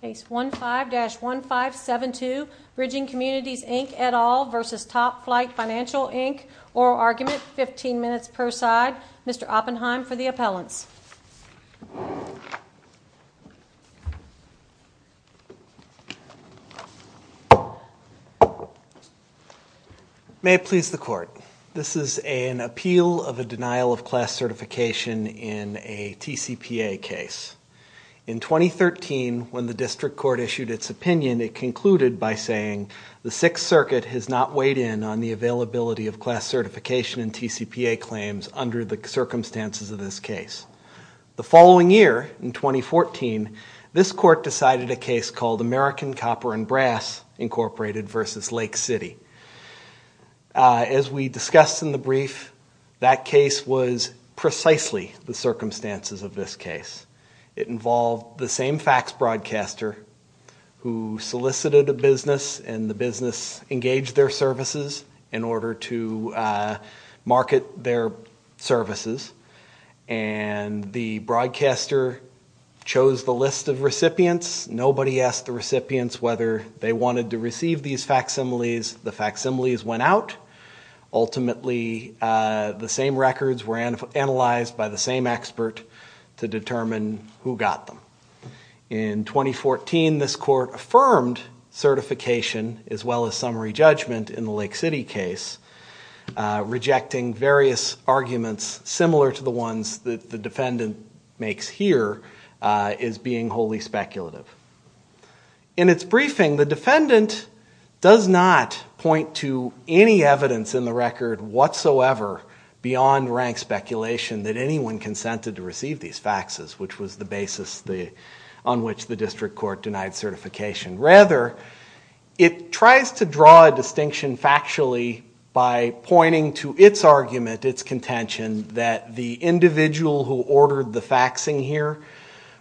Case 15-1572, Bridging Communities Inc. et al. v. Top Flite Financial Inc. Oral argument, 15 minutes per side. Mr. Oppenheim for the appellants. May it please the court. This is an appeal of a denial of class certification in a TCPA case. In 2013, when the district court issued its opinion, it concluded by saying, the Sixth Circuit has not weighed in on the availability of class certification in TCPA claims under the circumstances of this case. The following year, in 2014, this court decided a case called American Copper and Brass Incorporated v. Lake City. As we discussed in the brief, that case was precisely the circumstances of this case. It involved the same fax broadcaster who solicited a business, and the business engaged their services in order to market their services. And the broadcaster chose the list of recipients. Nobody asked the recipients whether they wanted to receive these facsimiles. The facsimiles went out. Ultimately, the same records were analyzed by the same expert to determine who got them. In 2014, this court affirmed certification, as well as summary judgment in the Lake City case, rejecting various arguments similar to the ones that the defendant makes here, as being wholly speculative. In its briefing, the defendant does not point to any evidence in the record whatsoever beyond rank speculation that anyone consented to receive these faxes, which was the basis on which the district court denied certification. Rather, it tries to draw a distinction factually by pointing to its argument, its contention, that the individual who ordered the faxing here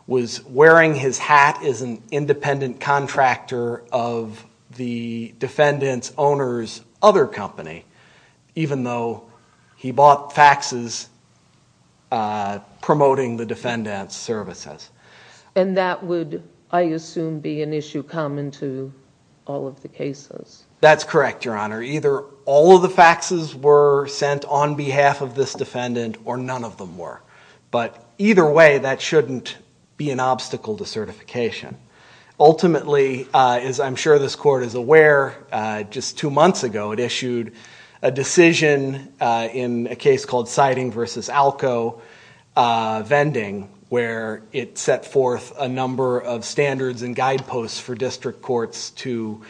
was wearing his hat as an independent contractor of the defendant's owner's other company, even though he bought faxes promoting the defendant's services. And that would, I assume, be an issue common to all of the cases. That's correct, Your Honor. Either all of the faxes were sent on behalf of this defendant or none of them were. But either way, that shouldn't be an obstacle to certification. Ultimately, as I'm sure this court is aware, just two months ago it issued a decision in a case called Siding v. Alko vending, where it set forth a number of standards and guideposts for district courts to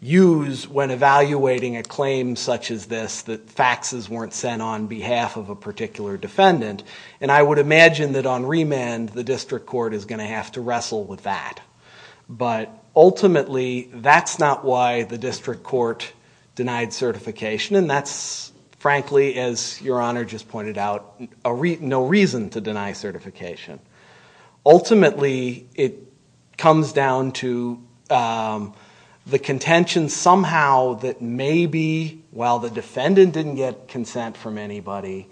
use when evaluating a claim such as this, that faxes weren't sent on behalf of a particular defendant. And I would imagine that on remand, the district court is going to have to wrestle with that. But ultimately, that's not why the district court denied certification. And that's, frankly, as Your Honor just pointed out, no reason to deny certification. Ultimately, it comes down to the contention somehow that maybe, while the defendant didn't get consent from anybody,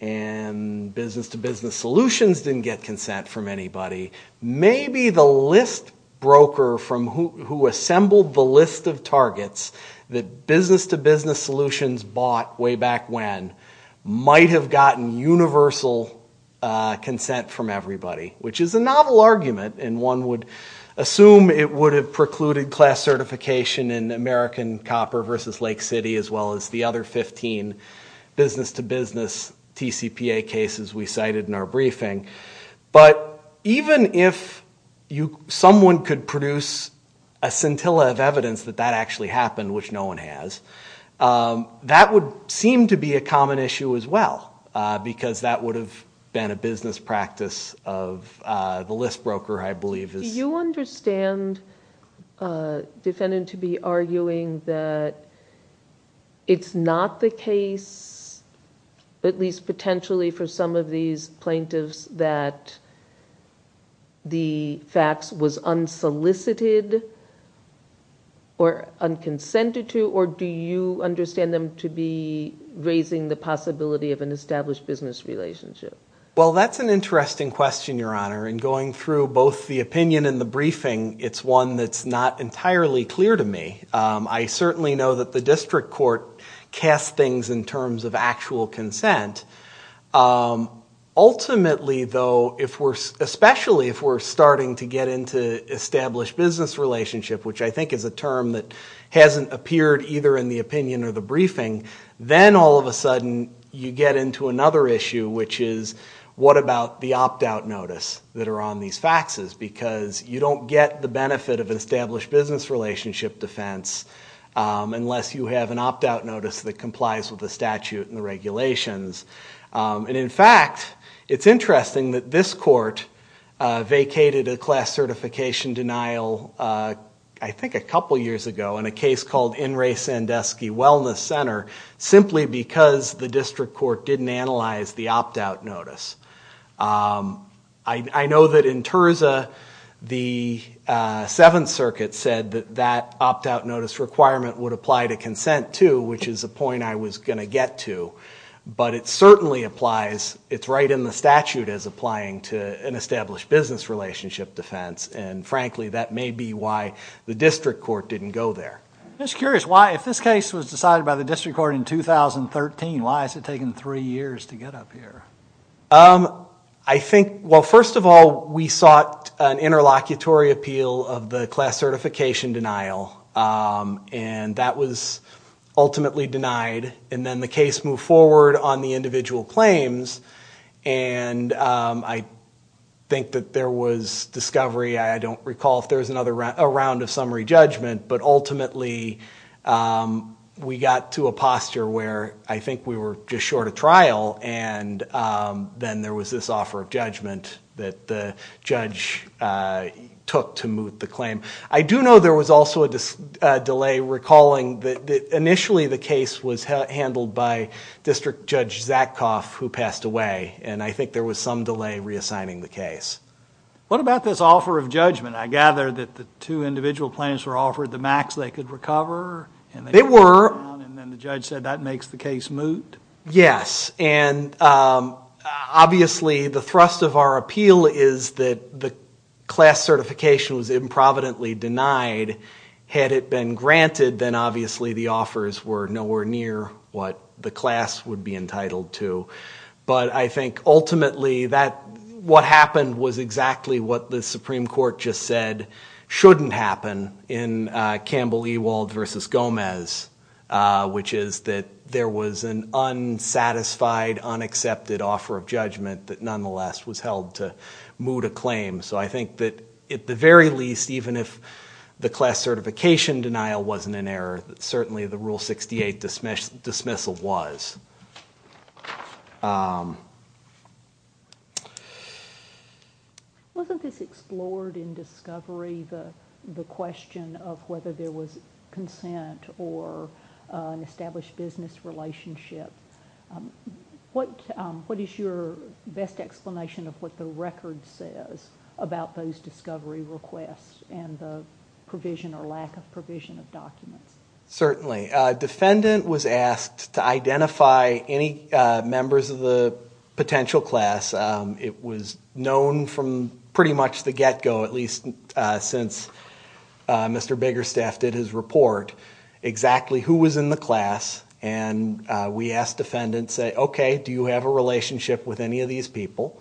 and Business-to-Business Solutions didn't get consent from anybody, maybe the list broker who assembled the list of targets that Business-to-Business Solutions bought way back when might have gotten universal consent from everybody, which is a novel argument. And one would assume it would have precluded class certification in American Copper v. Lake City as well as the other 15 Business-to-Business TCPA cases we cited in our briefing. But even if someone could produce a scintilla of evidence that that actually happened, which no one has, that would seem to be a common issue as well because that would have been a business practice of the list broker, I believe. Do you understand, defendant-to-be arguing, that it's not the case, at least potentially for some of these plaintiffs, that the facts was unsolicited or unconsented to, or do you understand them to be raising the possibility of an established business relationship? Well, that's an interesting question, Your Honor, and going through both the opinion and the briefing, it's one that's not entirely clear to me. I certainly know that the district court casts things in terms of actual consent. Ultimately, though, especially if we're starting to get into established business relationship, which I think is a term that hasn't appeared either in the opinion or the briefing, then all of a sudden you get into another issue, which is what about the opt-out notice that are on these faxes because you don't get the benefit of an established business relationship defense unless you have an opt-out notice that complies with the statute and the regulations. In fact, it's interesting that this court vacated a class certification denial, I think a couple years ago, in a case called In re Sandusky Wellness Center simply because the district court didn't analyze the opt-out notice. I know that in Terza, the Seventh Circuit said that that opt-out notice requirement would apply to consent too, which is a point I was going to get to, but it certainly applies. It's right in the statute as applying to an established business relationship defense, and frankly, that may be why the district court didn't go there. I'm just curious, if this case was decided by the district court in 2013, why has it taken three years to get up here? I think, well, first of all, we sought an interlocutory appeal of the class certification denial, and that was ultimately denied, and then the case moved forward on the individual claims, and I think that there was discovery. I don't recall if there was a round of summary judgment, but ultimately we got to a posture where I think we were just short a trial, and then there was this offer of judgment that the judge took to move the claim. I do know there was also a delay recalling that initially the case was handled by District Judge Zatkoff, who passed away, and I think there was some delay reassigning the case. What about this offer of judgment? I gather that the two individual claims were offered the max they could recover? They were. And then the judge said that makes the case moot? Yes, and obviously the thrust of our appeal is that the class certification was improvidently denied. Had it been granted, then obviously the offers were nowhere near what the class would be entitled to, but I think ultimately what happened was exactly what the Supreme Court just said shouldn't happen in Campbell-Ewald v. Gomez, which is that there was an unsatisfied, unaccepted offer of judgment that nonetheless was held to moot a claim. So I think that at the very least, even if the class certification denial wasn't an error, certainly the Rule 68 dismissal was. Wasn't this explored in discovery, the question of whether there was consent or an established business relationship? What is your best explanation of what the record says about those discovery requests and the provision or lack of provision of documents? Certainly. A defendant was asked to identify any members of the potential class. It was known from pretty much the get-go, at least since Mr. Biggerstaff did his report, exactly who was in the class, and we asked defendants, say, okay, do you have a relationship with any of these people?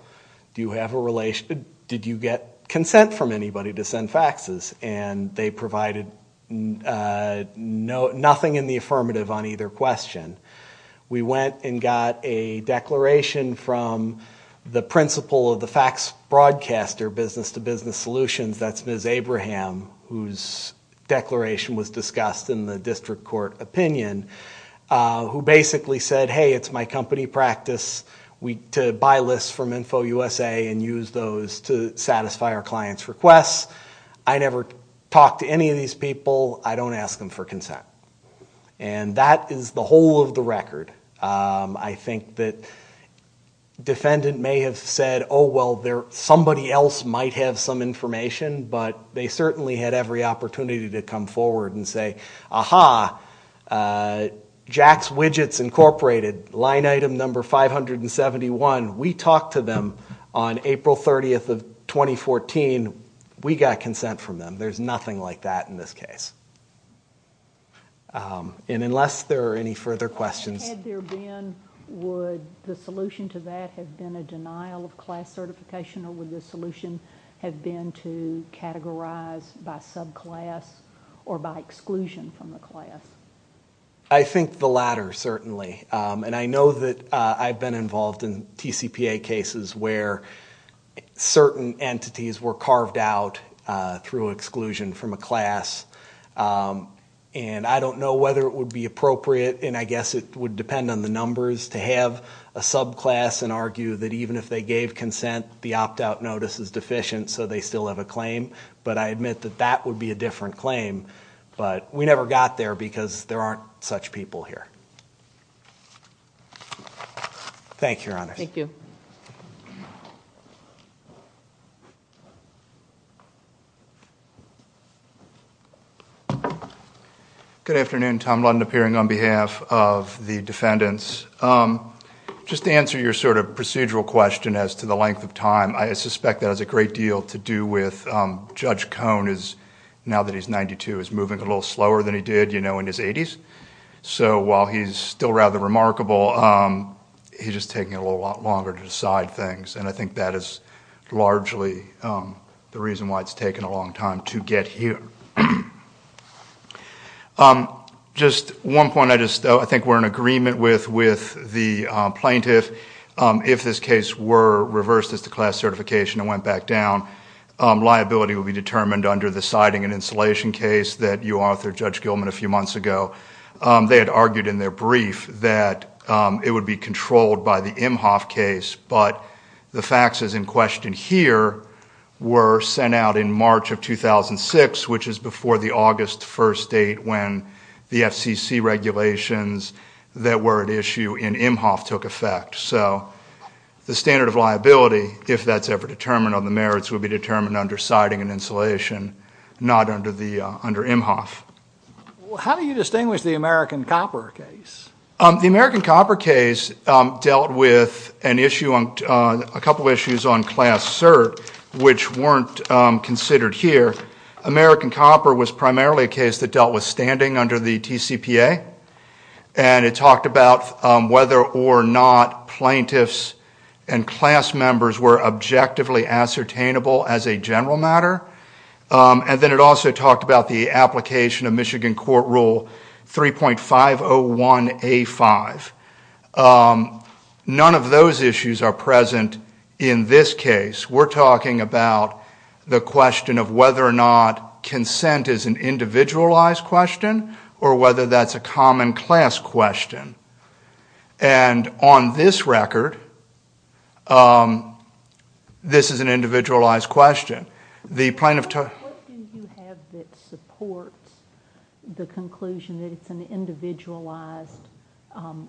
Do you have a relationship? Did you get consent from anybody to send faxes? And they provided nothing in the affirmative on either question. We went and got a declaration from the principal of the fax broadcaster, Business-to-Business Solutions, that's Ms. Abraham, whose declaration was discussed in the district court opinion, who basically said, hey, it's my company practice to buy lists from InfoUSA and use those to satisfy our clients' requests. I never talked to any of these people. I don't ask them for consent. And that is the whole of the record. I think that defendant may have said, oh, well, somebody else might have some information, but they certainly had every opportunity to come forward and say, aha, Jax Widgets Incorporated, line item number 571, we talked to them on April 30th of 2014, we got consent from them. There's nothing like that in this case. And unless there are any further questions. Had there been, would the solution to that have been a denial of class certification or would the solution have been to categorize by subclass or by exclusion from the class? I think the latter, certainly. And I know that I've been involved in TCPA cases where certain entities were carved out through exclusion from a class. And I don't know whether it would be appropriate, and I guess it would depend on the numbers, to have a subclass and argue that even if they gave consent, the opt-out notice is deficient so they still have a claim. But I admit that that would be a different claim. But we never got there because there aren't such people here. Thank you, Your Honor. Thank you. Good afternoon. Tom Lund, appearing on behalf of the defendants. Just to answer your sort of procedural question as to the length of time, I suspect that has a great deal to do with Judge Cone is, now that he's 92, is moving a little slower than he did in his 80s. So while he's still rather remarkable, he's just taking a little longer to decide things. And I think that is largely the reason why it's taken a long time to get here. Just one point, I think we're in agreement with the plaintiff. If this case were reversed as to class certification and went back down, liability would be determined under the siding and insulation case that you authored, Judge Gilman, a few months ago. They had argued in their brief that it would be controlled by the Imhoff case, but the faxes in question here were sent out in March of 2006, which is before the August 1st date when the FCC regulations that were at The standard of liability, if that's ever determined on the merits, would be determined under siding and insulation, not under Imhoff. How do you distinguish the American Copper case? The American Copper case dealt with a couple of issues on class cert, which weren't considered here. American Copper was primarily a case that dealt with standing under the TCPA, and it talked about whether or not plaintiffs and class members were objectively ascertainable as a general matter. And then it also talked about the application of Michigan Court Rule 3.501A5. None of those issues are present in this case. We're talking about the question of whether or not consent is an individualized question or whether that's a common class question. And on this record, this is an individualized question. What do you have that supports the conclusion that it's an individualized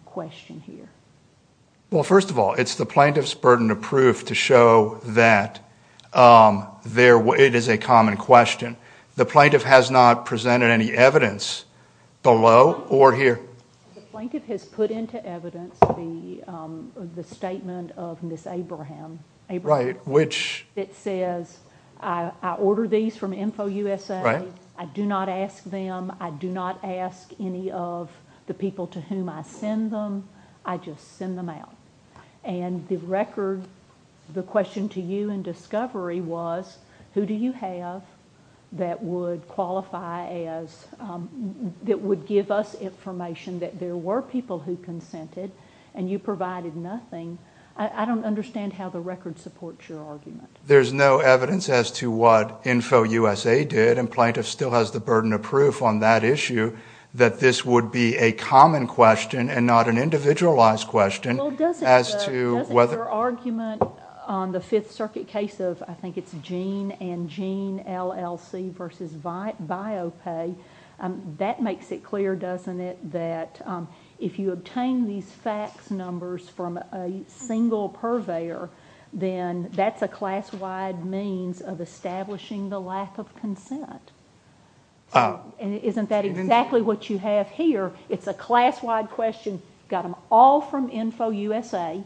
question here? Well, first of all, it's the plaintiff's burden of proof to show that it is a common question. The plaintiff has not presented any evidence below or here. The plaintiff has put into evidence the statement of Ms. Abraham. Right, which? It says, I ordered these from InfoUSA. I do not ask them. I do not ask any of the people to whom I send them. I just send them out. And the record, the question to you in discovery was, who do you have that would qualify as, that would give us information that there were people who consented and you provided nothing? I don't understand how the record supports your argument. There's no evidence as to what InfoUSA did, and plaintiff still has the burden of proof on that issue that this would be a common question and not an individualized question. Well, doesn't your argument on the Fifth Circuit case of, I think it's Gene and Gene LLC versus BioPay, that makes it clear, doesn't it, that if you obtain these fax numbers from a single purveyor, then that's a class-wide means of establishing the lack of consent. Isn't that exactly what you have here? It's a class-wide question. You got them all from InfoUSA,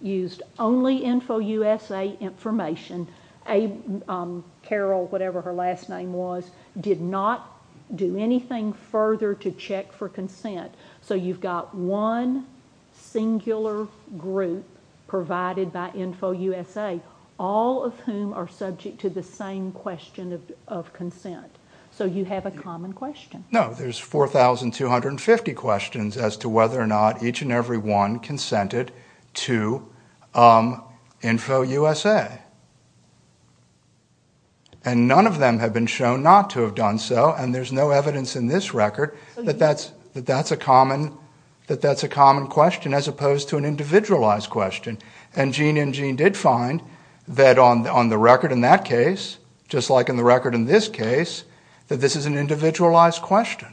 used only InfoUSA information. Carol, whatever her last name was, did not do anything further to check for consent. So you've got one singular group provided by InfoUSA, all of whom are subject to the same question of consent. So you have a common question. No, there's 4,250 questions as to whether or not each and every one consented to InfoUSA. And none of them have been shown not to have done so, and there's no evidence in this record that that's a common question as opposed to an individualized question. And Gene and Gene did find that on the record in that case, just like in the record in this case, that this is an individualized question.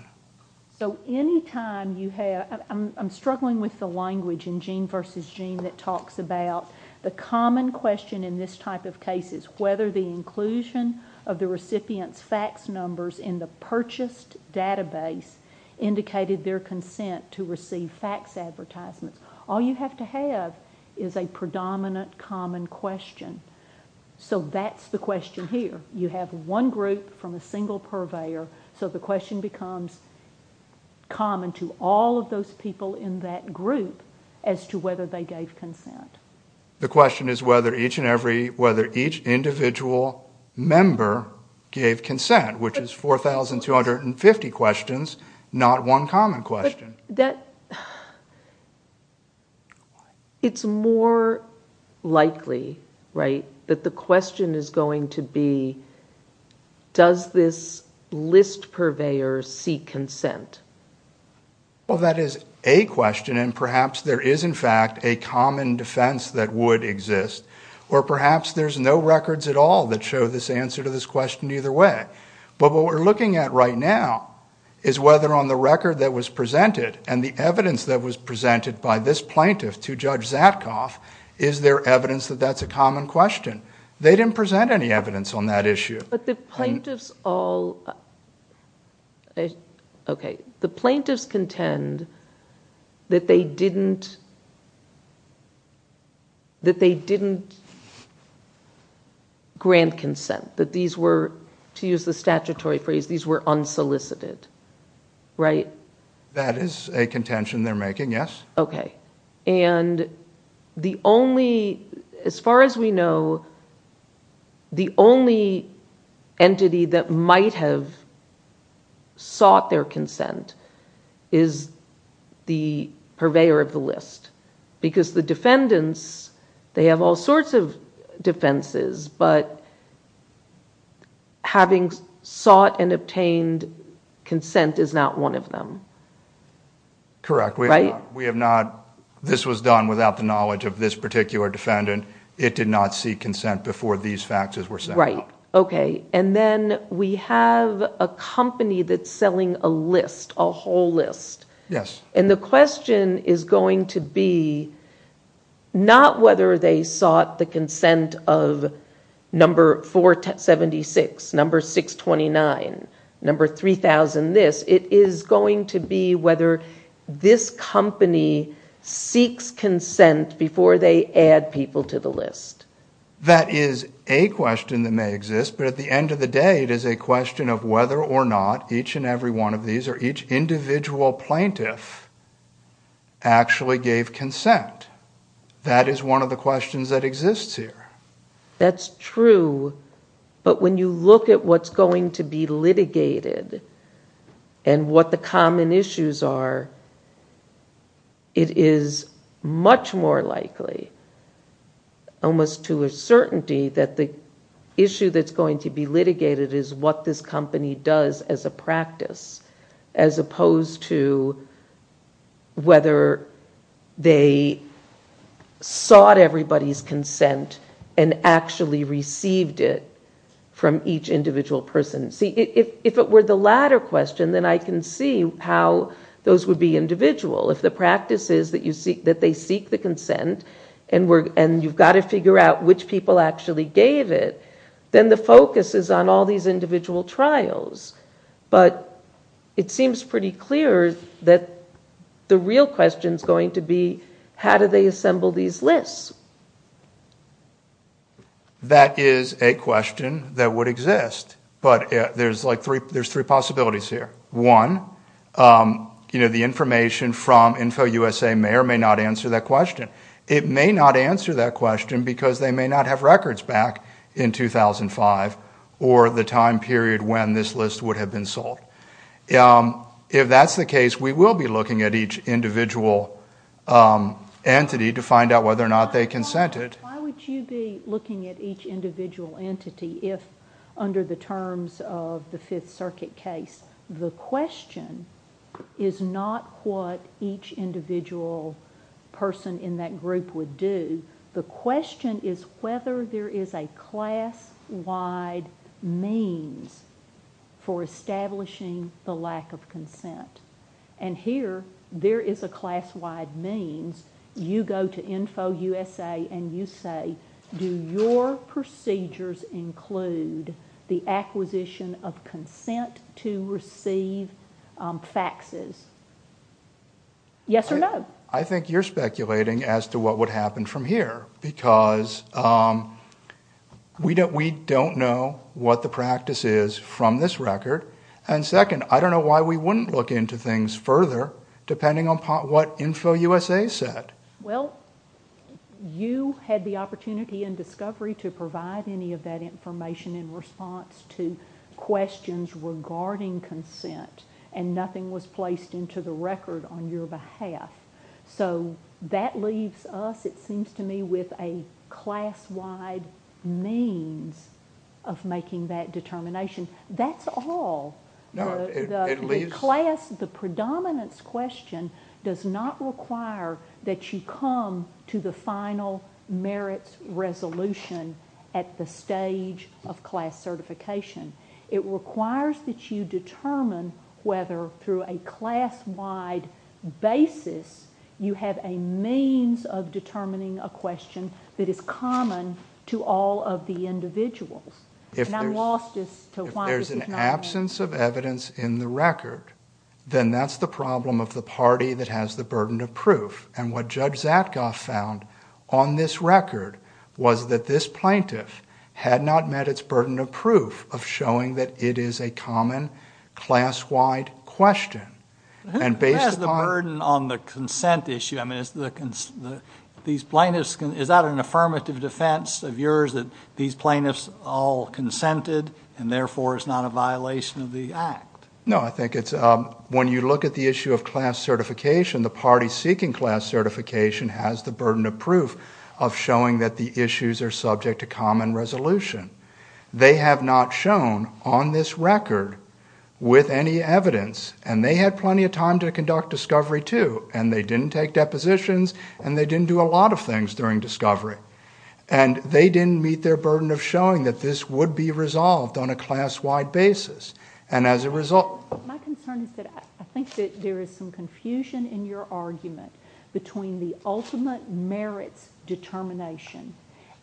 So any time you have... I'm struggling with the language in Gene versus Gene that talks about the common question in this type of case is whether the inclusion of the recipient's fax numbers in the purchased database indicated their consent to receive fax advertisements. All you have to have is a predominant common question. So that's the question here. You have one group from a single purveyor, so the question becomes common to all of those people in that group as to whether they gave consent. The question is whether each and every... whether each individual member gave consent, which is 4,250 questions, not one common question. It's more likely, right, that the question is going to be, does this list purveyor seek consent? Well, that is a question, and perhaps there is, in fact, a common defence that would exist, or perhaps there's no records at all that show this answer to this question either way. But what we're looking at right now is whether on the record that was presented and the evidence that was presented by this plaintiff to Judge Zatkoff, is there evidence that that's a common question? They didn't present any evidence on that issue. But the plaintiffs all... OK, the plaintiffs contend that they didn't... ..that they didn't grant consent, that these were, to use the statutory phrase, these were unsolicited, right? That is a contention they're making, yes. OK, and the only... As far as we know, the only entity that might have sought their consent is the purveyor of the list, because the defendants, they have all sorts of defences, but having sought and obtained consent is not one of them. Correct. We have not... This was done without the knowledge of this particular defendant. It did not seek consent before these faxes were sent out. Right. OK. And then we have a company that's selling a list, a whole list. Yes. And the question is going to be not whether they sought the consent of number 476, number 629, number 3000, this. It is going to be whether this company seeks consent before they add people to the list. That is a question that may exist, but at the end of the day it is a question of whether or not each and every one of these, or each individual plaintiff, actually gave consent. That is one of the questions that exists here. That's true, but when you look at what's going to be litigated and what the common issues are, it is much more likely, almost to a certainty, that the issue that's going to be litigated is what this company does as a practice, as opposed to whether they sought everybody's consent and actually received it from each individual person. See, if it were the latter question, then I can see how those would be individual. If the practice is that they seek the consent and you've got to figure out which people actually gave it, then the focus is on all these individual trials. But it seems pretty clear that the real question is going to be how do they assemble these lists? That is a question that would exist, but there's three possibilities here. One, the information from InfoUSA may or may not answer that question. It may not answer that question because they may not have records back in 2005 or the time period when this list would have been sold. If that's the case, we will be looking at each individual entity to find out whether or not they consented. Why would you be looking at each individual entity if, under the terms of the Fifth Circuit case, the question is not what each individual person in that group would do. The question is whether there is a class-wide means for establishing the lack of consent. And here, there is a class-wide means. You go to InfoUSA and you say, do your procedures include the acquisition of consent to receive faxes? Yes or no? I think you're speculating as to what would happen from here because we don't know what the practice is from this record. And second, I don't know why we wouldn't look into things further depending upon what InfoUSA said. Well, you had the opportunity and discovery to provide any of that information in response to questions regarding consent, and nothing was placed into the record on your behalf. So that leaves us, it seems to me, with a class-wide means of making that determination. That's all. The predominance question does not require that you come to the final merits resolution at the stage of class certification. It requires that you determine whether through a class-wide basis you have a means of determining a question that is common to all of the individuals. If there's an absence of evidence in the record, then that's the problem of the party that has the burden of proof. And what Judge Zatkoff found on this record was that this plaintiff had not met its burden of proof of showing that it is a common class-wide question. Who has the burden on the consent issue? Is that an affirmative defense of yours that these plaintiffs all consented and therefore it's not a violation of the Act? No, I think it's... When you look at the issue of class certification, the party seeking class certification has the burden of proof of showing that the issues are subject to common resolution. They have not shown on this record with any evidence, and they had plenty of time to conduct discovery too, and they didn't take depositions and they didn't do a lot of things during discovery. And they didn't meet their burden of showing that this would be resolved on a class-wide basis. And as a result... My concern is that I think that there is some confusion in your argument between the ultimate merits determination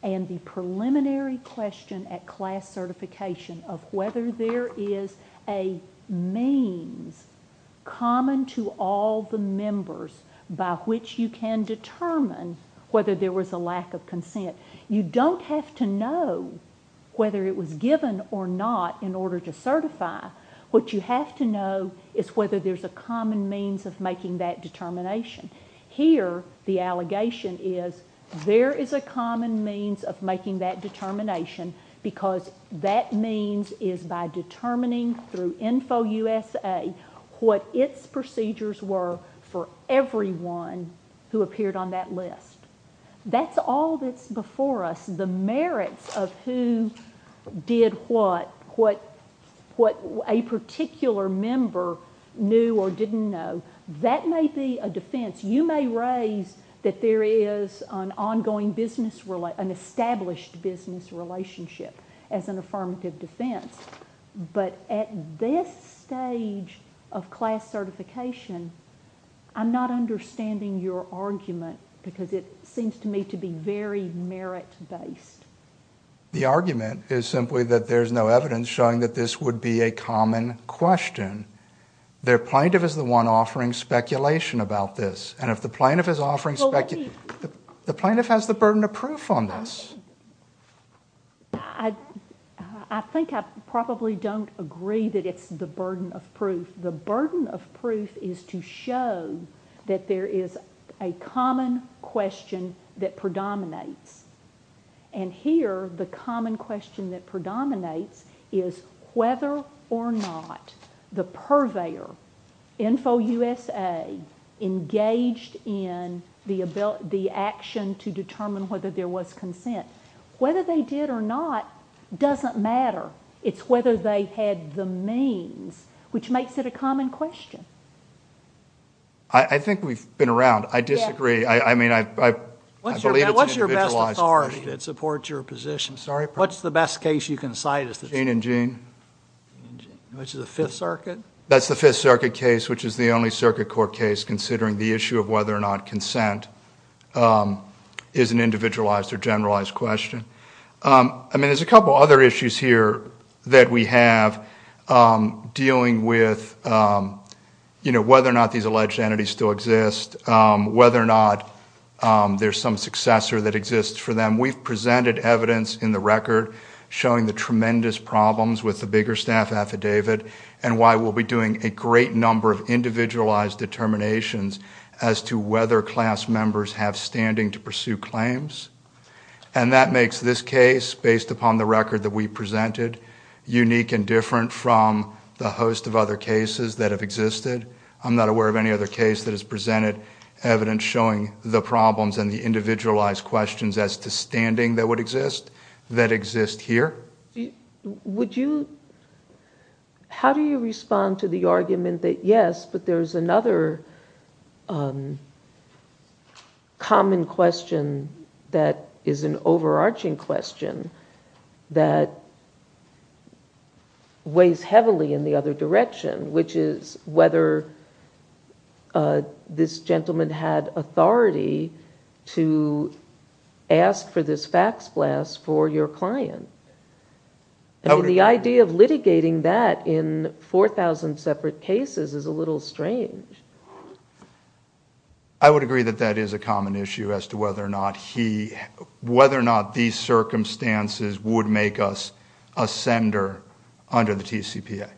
and the preliminary question at class certification of whether there is a means common to all the members by which you can determine whether there was a lack of consent. You don't have to know whether it was given or not in order to certify. What you have to know is whether there's a common means of making that determination. Here, the allegation is there is a common means of making that determination because that means is by determining through InfoUSA what its procedures were for everyone who appeared on that list. That's all that's before us. The merits of who did what, what a particular member knew or didn't know, that may be a defence. You may raise that there is an established business relationship as an affirmative defence. But at this stage of class certification, I'm not understanding your argument because it seems to me to be very merit-based. The argument is simply that there's no evidence showing that this would be a common question. The plaintiff is the one offering speculation about this. And if the plaintiff is offering speculation... The plaintiff has the burden of proof on this. I think I probably don't agree that it's the burden of proof. The burden of proof is to show that there is a common question that predominates. And here, the common question that predominates is whether or not the purveyor, InfoUSA, engaged in the action to determine whether there was consent. Whether they did or not doesn't matter. It's whether they had the means, which makes it a common question. I think we've been around. I disagree. I mean, I believe it's an individualized... What's your best authority that supports your position? What's the best case you can cite? Gene and Gene. Which is the Fifth Circuit? That's the Fifth Circuit case, which is the only circuit court case considering the issue of whether or not consent is an individualized or generalized question. I mean, there's a couple other issues here that we have dealing with, you know, whether or not these alleged entities still exist, whether or not there's some successor that exists for them. We've presented evidence in the record showing the tremendous problems with the Bigger Staff Affidavit and why we'll be doing a great number of individualized determinations as to whether class members have standing to pursue claims. And that makes this case, based upon the record that we presented, unique and different from the host of other cases that have existed. I'm not aware of any other case that has presented evidence showing the problems and the individualized questions as to standing that would exist that exist here. Would you... How do you respond to the argument that, yes, but there's another common question that is an overarching question that weighs heavily in the other direction, which is whether this gentleman had authority to ask for this fax blast for your client. I mean, the idea of litigating that in 4,000 separate cases is a little strange. I would agree that that is a common issue as to whether or not these circumstances would make us a sender under the TCPA.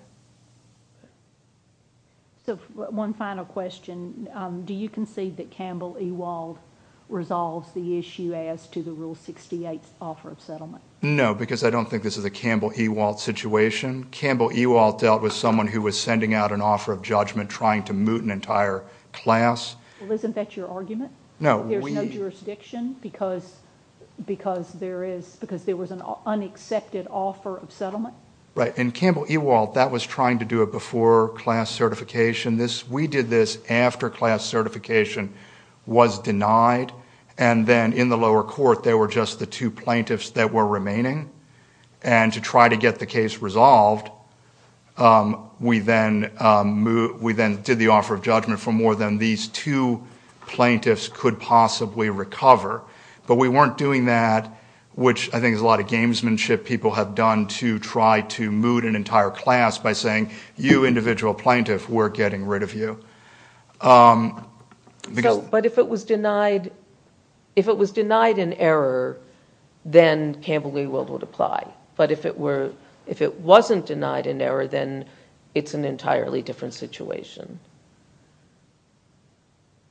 So one final question. Do you concede that Campbell Ewald resolves the issue as to the Rule 68 offer of settlement? No, because I don't think this is a Campbell Ewald situation. Campbell Ewald dealt with someone who was sending out an offer of judgment trying to moot an entire class. Well, isn't that your argument? There's no jurisdiction because there was an unaccepted offer of settlement? Right, and Campbell Ewald, that was trying to do a before-class certification. We did this after-class certification was denied, and then in the lower court there were just the two plaintiffs that were remaining. And to try to get the case resolved, we then did the offer of judgment for more than these two plaintiffs could possibly recover. But we weren't doing that, which I think is a lot of gamesmanship people have done to try to moot an entire class by saying, you individual plaintiff, we're getting rid of you. But if it was denied in error, then Campbell Ewald would apply. But if it wasn't denied in error, then it's an entirely different situation.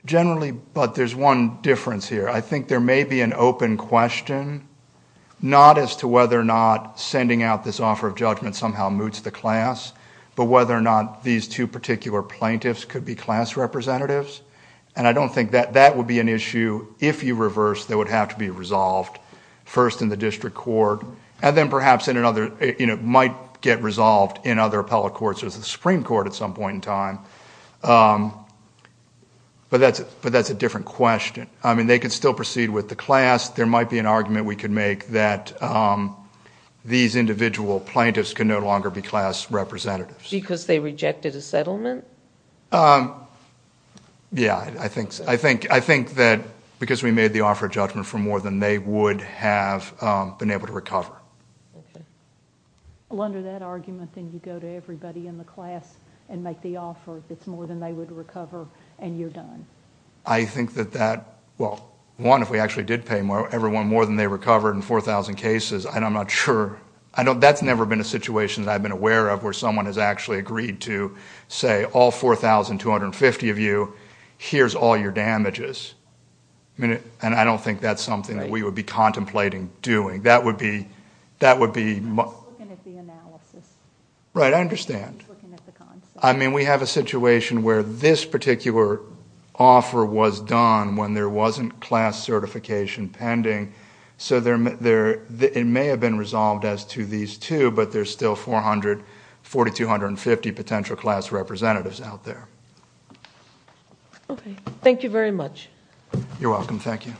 Generally, but there's one difference here. I think there may be an open question, not as to whether or not sending out this offer of judgment somehow moots the class, but whether or not these two particular plaintiffs could be class representatives. And I don't think that that would be an issue. If you reverse, they would have to be resolved, first in the district court, and then perhaps might get resolved in other appellate courts or the Supreme Court at some point in time. But that's a different question. I mean, they could still proceed with the class. There might be an argument we could make that these individual plaintiffs could no longer be class representatives. Because they rejected a settlement? Yeah, I think so. I think that because we made the offer of judgment for more than they would have been able to recover. Well, under that argument, then you go to everybody in the class and make the offer that's more than they would recover, and you're done. I think that that, well, one, if we actually did pay everyone more than they recovered in 4,000 cases, I'm not sure. That's never been a situation that I've been aware of where someone has actually agreed to say, all 4,250 of you, here's all your damages. And I don't think that's something that we would be contemplating doing. That would be... I'm just looking at the analysis. Right, I understand. I'm just looking at the concept. I mean, we have a situation where this particular offer was done when there wasn't class certification pending. So it may have been resolved as to these two, but there's still 4,250 potential class representatives out there. Okay. Thank you very much. You're welcome. Thank you.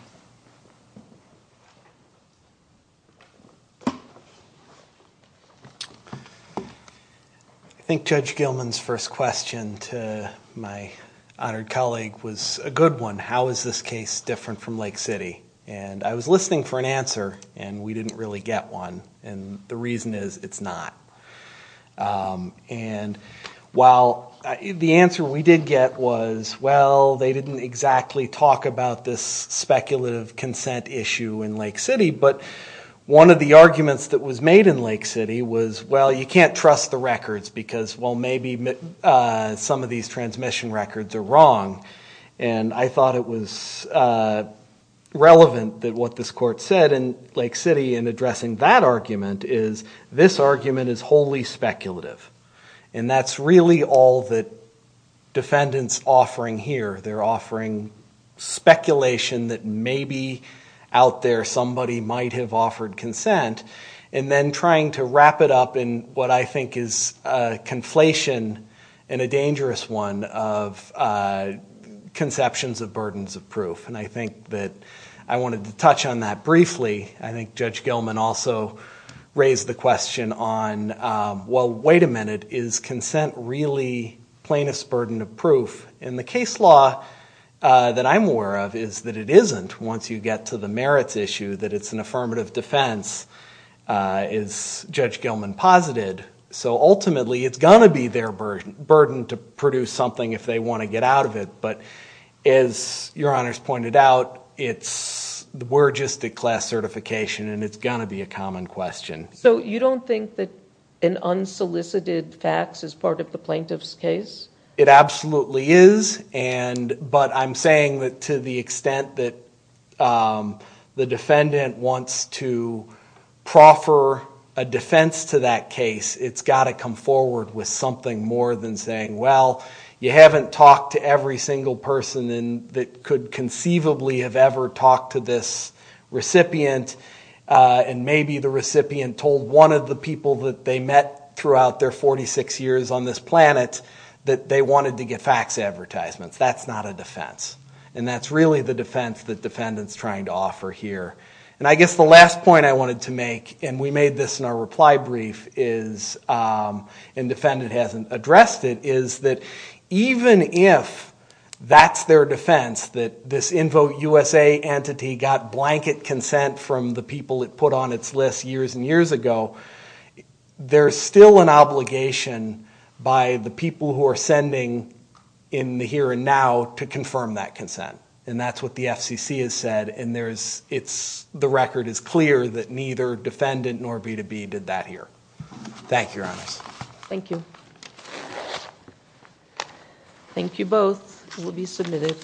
I think Judge Gilman's first question to my honored colleague was a good one. How is this case different from Lake City? And I was listening for an answer, and we didn't really get one. And the reason is, it's not. And while the answer we did get was, well, they didn't exactly talk about this speculative consent issue in Lake City, but one of the arguments that was made in Lake City was, well, you can't trust the records because, well, maybe some of these transmission records are wrong. And I thought it was relevant that what this court said in Lake City in addressing that argument is, this argument is wholly speculative. And that's really all that defendants are offering here. They're offering speculation that maybe out there somebody might have offered consent, and then trying to wrap it up in what I think is a conflation and a dangerous one of conceptions of burdens of proof. And I think that I wanted to touch on that briefly. I think Judge Gilman also raised the question on, well, wait a minute. Is consent really plaintiff's burden of proof? And the case law that I'm aware of is that it isn't once you get to the merits issue, that it's an affirmative defense, as Judge Gilman posited. So ultimately, it's going to be their burden to produce something if they want to get out of it. But as Your Honors pointed out, we're just at class certification, and it's going to be a common question. So you don't think that an unsolicited fax is part of the plaintiff's case? It absolutely is, but I'm saying that to the extent that the defendant wants to proffer a defense to that case, it's got to come forward with something more than saying, well, you haven't talked to every single person that could conceivably have ever talked to this recipient, and maybe the recipient told one of the people that they met throughout their 46 years on this planet that they wanted to get fax advertisements. That's not a defense. And that's really the defense that defendant's trying to offer here. And I guess the last point I wanted to make, and we made this in our reply brief, and defendant hasn't addressed it, is that even if that's their defense, that this InVoteUSA entity got blanket consent from the people it put on its list years and years ago, there's still an obligation by the people who are sending in the here and now to confirm that consent. And that's what the FCC has said, and the record is clear that neither defendant nor B2B did that here. Thank you, Your Honors. Thank you. Thank you both. You will be submitted.